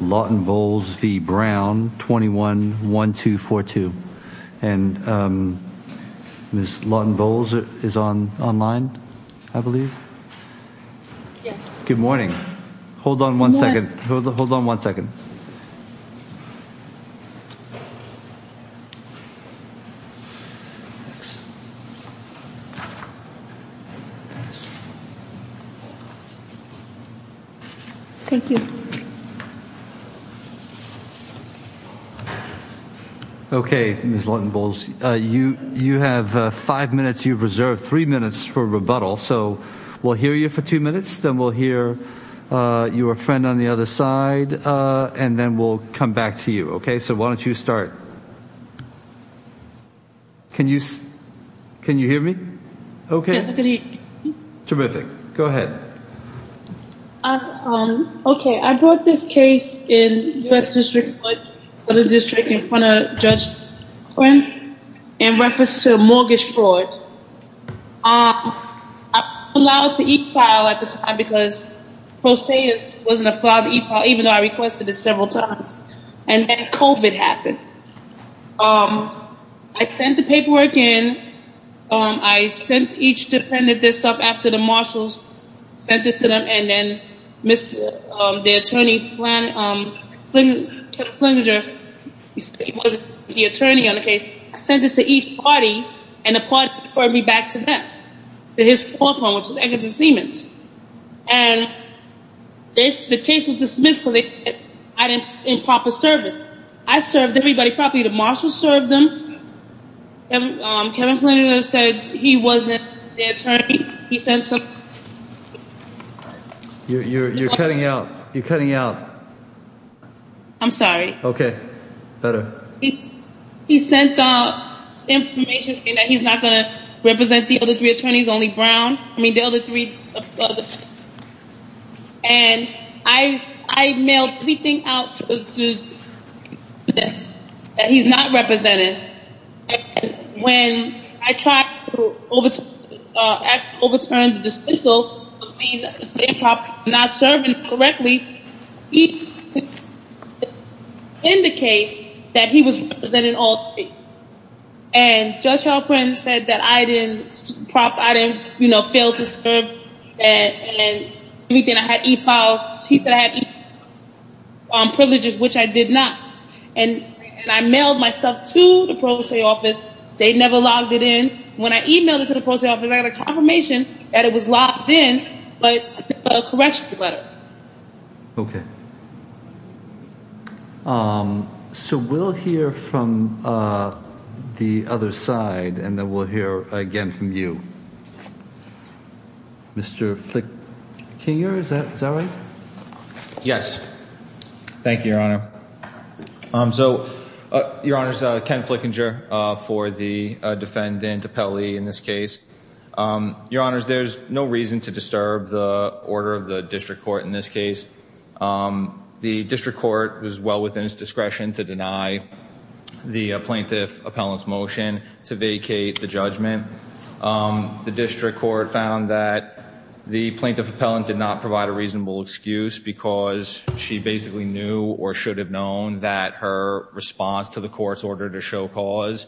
Lawton-Bowles v. Brown 21-1242. And Ms. Lawton-Bowles is online I believe. Good morning. Hold on one second. Hold on one second. Thank you. Okay, Ms. Lawton-Bowles, you have five minutes. You've reserved three minutes for rebuttal. So we'll hear you for two minutes, then we'll hear your friend on the other side and then we'll come back to you. Okay, so why don't you start. Can you hear me? Okay. Yes, I can hear you. Terrific. Go ahead. Okay, I brought this case in U.S. District 1, Southern District in front of Judge Quinn in reference to a mortgage fraud. I was allowed to e-file at the time because Pro Seis wasn't allowed to e-file even though I requested it several times. And then COVID happened. I sent the paperwork in. I sent each defendant this stuff after the marshals sent it to them. And then the attorney, Kevin Flinger, he wasn't the attorney on the case. I sent it to each party and the party referred me back to them, to his law firm, which is Eggerton Siemens. And the case was dismissed because I didn't in proper service. I served everybody properly. The marshals served them. Kevin Flinger said he wasn't the attorney. He sent some... You're cutting out. You're cutting out. I'm sorry. Okay, better. He sent out information saying that he's not going to represent the other three attorneys, only Brown. I mean, the other three... And I mailed everything out that he's not represented. When I tried to ask to overturn the dismissal, not serving correctly, he didn't indicate that he was representing all three. And Judge Halperin said that I didn't fail to serve. And everything I had e-filed, he said I had e-filed privileges, which I did not. And I mailed my stuff to the pro se office. They never logged it in. When I emailed it to the pro se office, I got a confirmation that it was logged in, but a correction letter. Okay. So we'll hear from the other side, and then we'll hear again from you. Mr. Flickinger, is that right? Yes. Thank you, Your Honor. So, Your Honor, Ken Flickinger for the defendant, Appelli, in this case. Your Honor, there's no reason to disturb the order of the district court in this case. The district court was well within its discretion to deny the plaintiff appellant's motion to vacate the judgment. The district court found that the plaintiff appellant did not provide a reasonable excuse because she basically knew or should have known that her response to the court's order to show cause,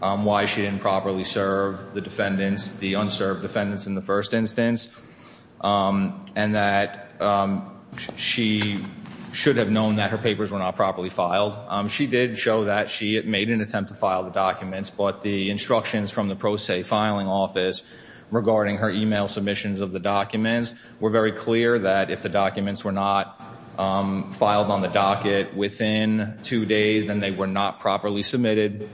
why she didn't properly serve the defendants, the unserved defendants in the first instance. And that she should have known that her papers were not properly filed. She did show that she made an attempt to file the documents, but the instructions from the pro se filing office regarding her email submissions of the documents were very clear that if the documents were not filed on the docket within two days, then they were not properly submitted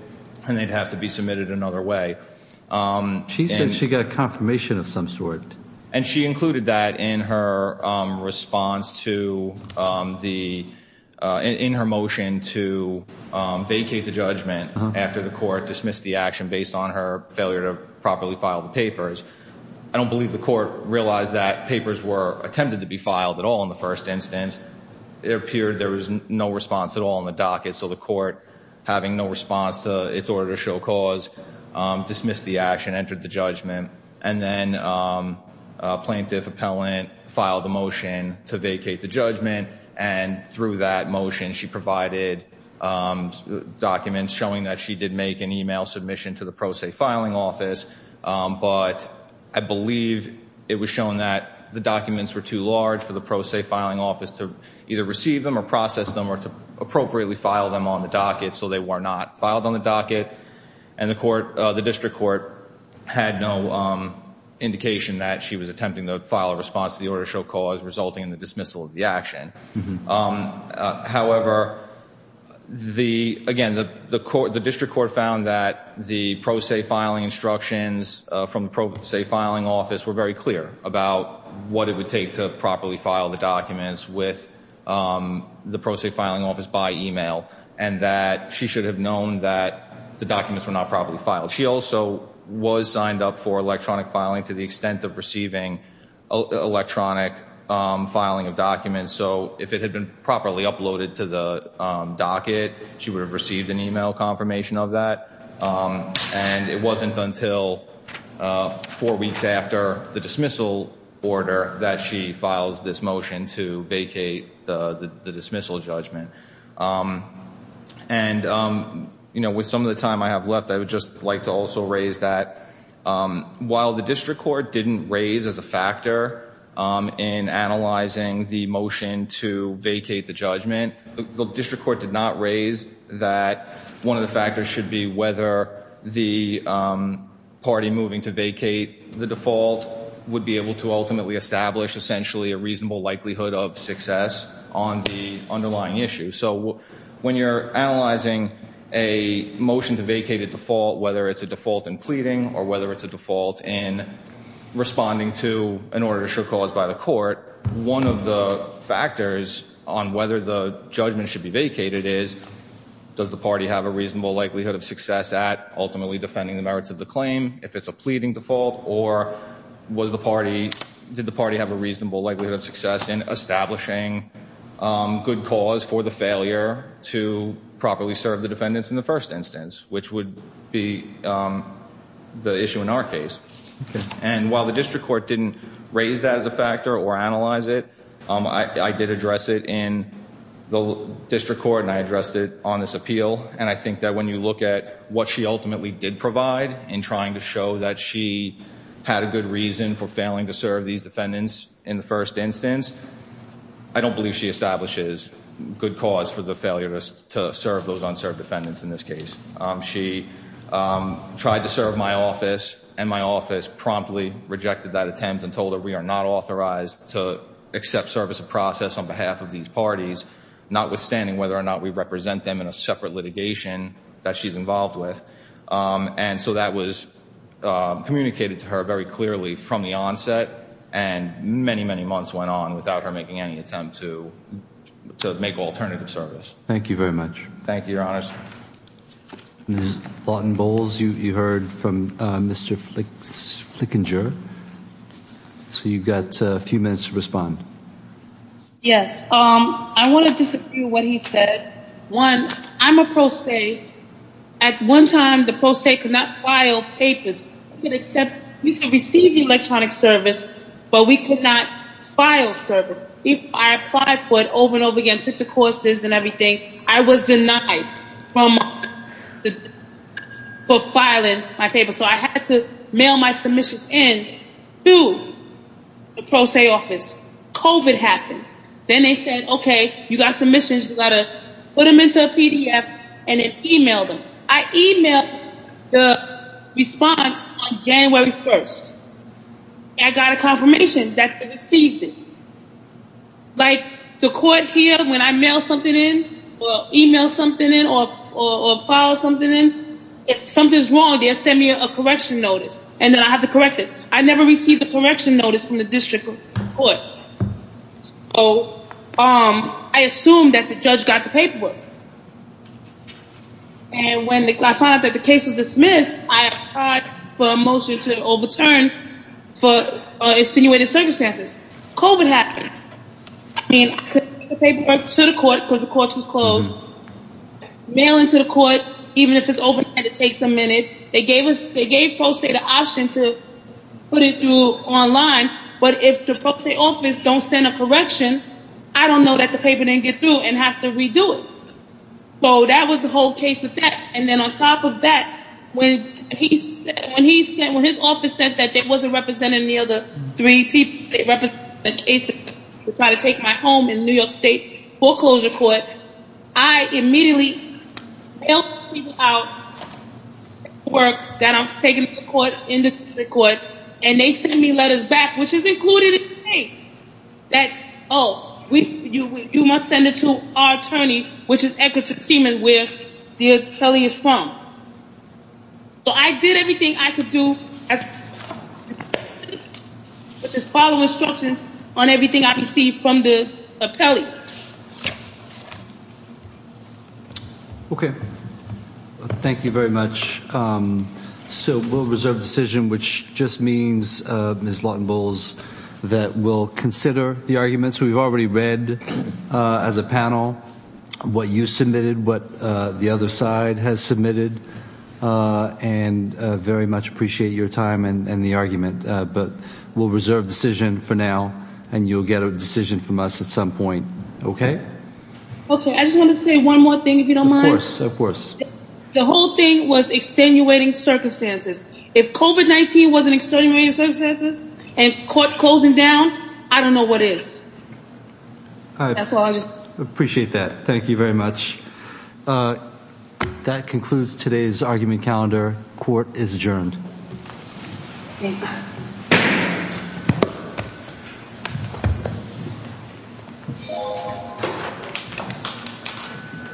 and they'd have to be submitted another way. She said she got a confirmation of some sort. And she included that in her response to the, in her motion to vacate the judgment after the court dismissed the action based on her failure to properly file the papers. I don't believe the court realized that papers were attempted to be filed at all in the first instance. It appeared there was no response at all in the docket. So the court, having no response to its order to show cause, dismissed the action, entered the judgment, and then a plaintiff appellant filed a motion to vacate the judgment. And through that motion, she provided documents showing that she did make an email submission to the pro se filing office. But I believe it was shown that the documents were too large for the pro se filing office to either receive them or process them or to appropriately file them on the docket. So they were not filed on the docket. And the court, the district court had no indication that she was attempting to file a response to the order to show cause resulting in the dismissal of the action. However, the, again, the court, the district court found that the pro se filing instructions from the pro se filing office were very clear about what it would take to properly file the pro se filing office by email, and that she should have known that the documents were not properly filed. She also was signed up for electronic filing to the extent of receiving electronic filing of documents. So if it had been properly uploaded to the docket, she would have received an email confirmation of that. And it wasn't until four weeks after the dismissal order that she files this motion to vacate the dismissal judgment. And, you know, with some of the time I have left, I would just like to also raise that while the district court didn't raise as a factor in analyzing the motion to vacate the judgment, the district court did not raise that one of the factors should be whether the party moving to would be able to ultimately establish essentially a reasonable likelihood of success on the underlying issue. So when you're analyzing a motion to vacate at default, whether it's a default in pleading or whether it's a default in responding to an order to show cause by the court, one of the factors on whether the judgment should be vacated is, does the party have a reasonable likelihood of success at ultimately defending the merits of the claim if it's a pleading default or was the party, did the party have a reasonable likelihood of success in establishing good cause for the failure to properly serve the defendants in the first instance, which would be the issue in our case. And while the district court didn't raise that as a factor or analyze it, I did address it in the district court and I addressed it on this appeal. And I think that when you look at what she ultimately did provide in trying to show that she had a good reason for failing to serve these defendants in the first instance, I don't believe she establishes good cause for the failure to serve those unserved defendants in this case. She tried to serve my office and my office promptly rejected that attempt and told her we are not authorized to accept service of process on behalf of these parties, not withstanding whether or not we represent them in a separate litigation that she's involved with. And so that was communicated to her very clearly from the onset and many, many months went on without her making any attempt to make alternative service. Thank you very much. Thank you, Your Honor. Ms. Lawton Bowles, you heard from Mr. Flickinger. So you've got a few minutes to respond. Yes. I want to disagree with what he said. One, I'm a pro se. At one time, the pro se could not file papers. We could receive the electronic service, but we could not file service. I applied for it over and over again, took the courses and everything. I was denied for filing my paper. So I had to mail my submissions in to the pro se office. COVID happened. Then they said, okay, you got submissions. You got to put them into a PDF and then email them. I emailed the response on January 1st. I got a confirmation that they received it. Like the court here, when I mail something in or email something in or file something in, if something's wrong, they'll send me a correction notice and then I have to correct it. I never received the correction notice from the district court. So I assumed that the judge got the paperwork. And when I found out that the case was dismissed, I applied for a motion to overturn for insinuated circumstances. COVID happened. I mean, I couldn't get the paperwork to the court because the court was closed. So mailing to the court, even if it's open and it takes a minute, they gave us, they gave pro se the option to put it through online. But if the pro se office don't send a correction, I don't know that the paper didn't get through and have to redo it. So that was the whole case with that. And then on top of that, when he said, when his office said that they wasn't representing the three people, they represented Jason to try to take my home in New York state foreclosure court, I immediately mailed the paperwork out that I'm taking to the court, in the district court, and they sent me letters back, which is included in the case that, oh, you must send it to our attorney, which is Edgerton Freeman, where dear Kelly is from. So I did everything I could do. Which is follow instructions on everything I received from the appellate. Okay. Thank you very much. So we'll reserve decision, which just means Ms. Lawton-Bowles that we'll consider the arguments we've already read as a panel, what you submitted, what the will reserve decision for now, and you'll get a decision from us at some point. Okay. Okay. I just want to say one more thing, if you don't mind. Of course. Of course. The whole thing was extenuating circumstances. If COVID-19 wasn't extenuating circumstances and court closing down, I don't know what is. I appreciate that. Thank you very much. That concludes today's argument calendar. Court is adjourned. Thank you.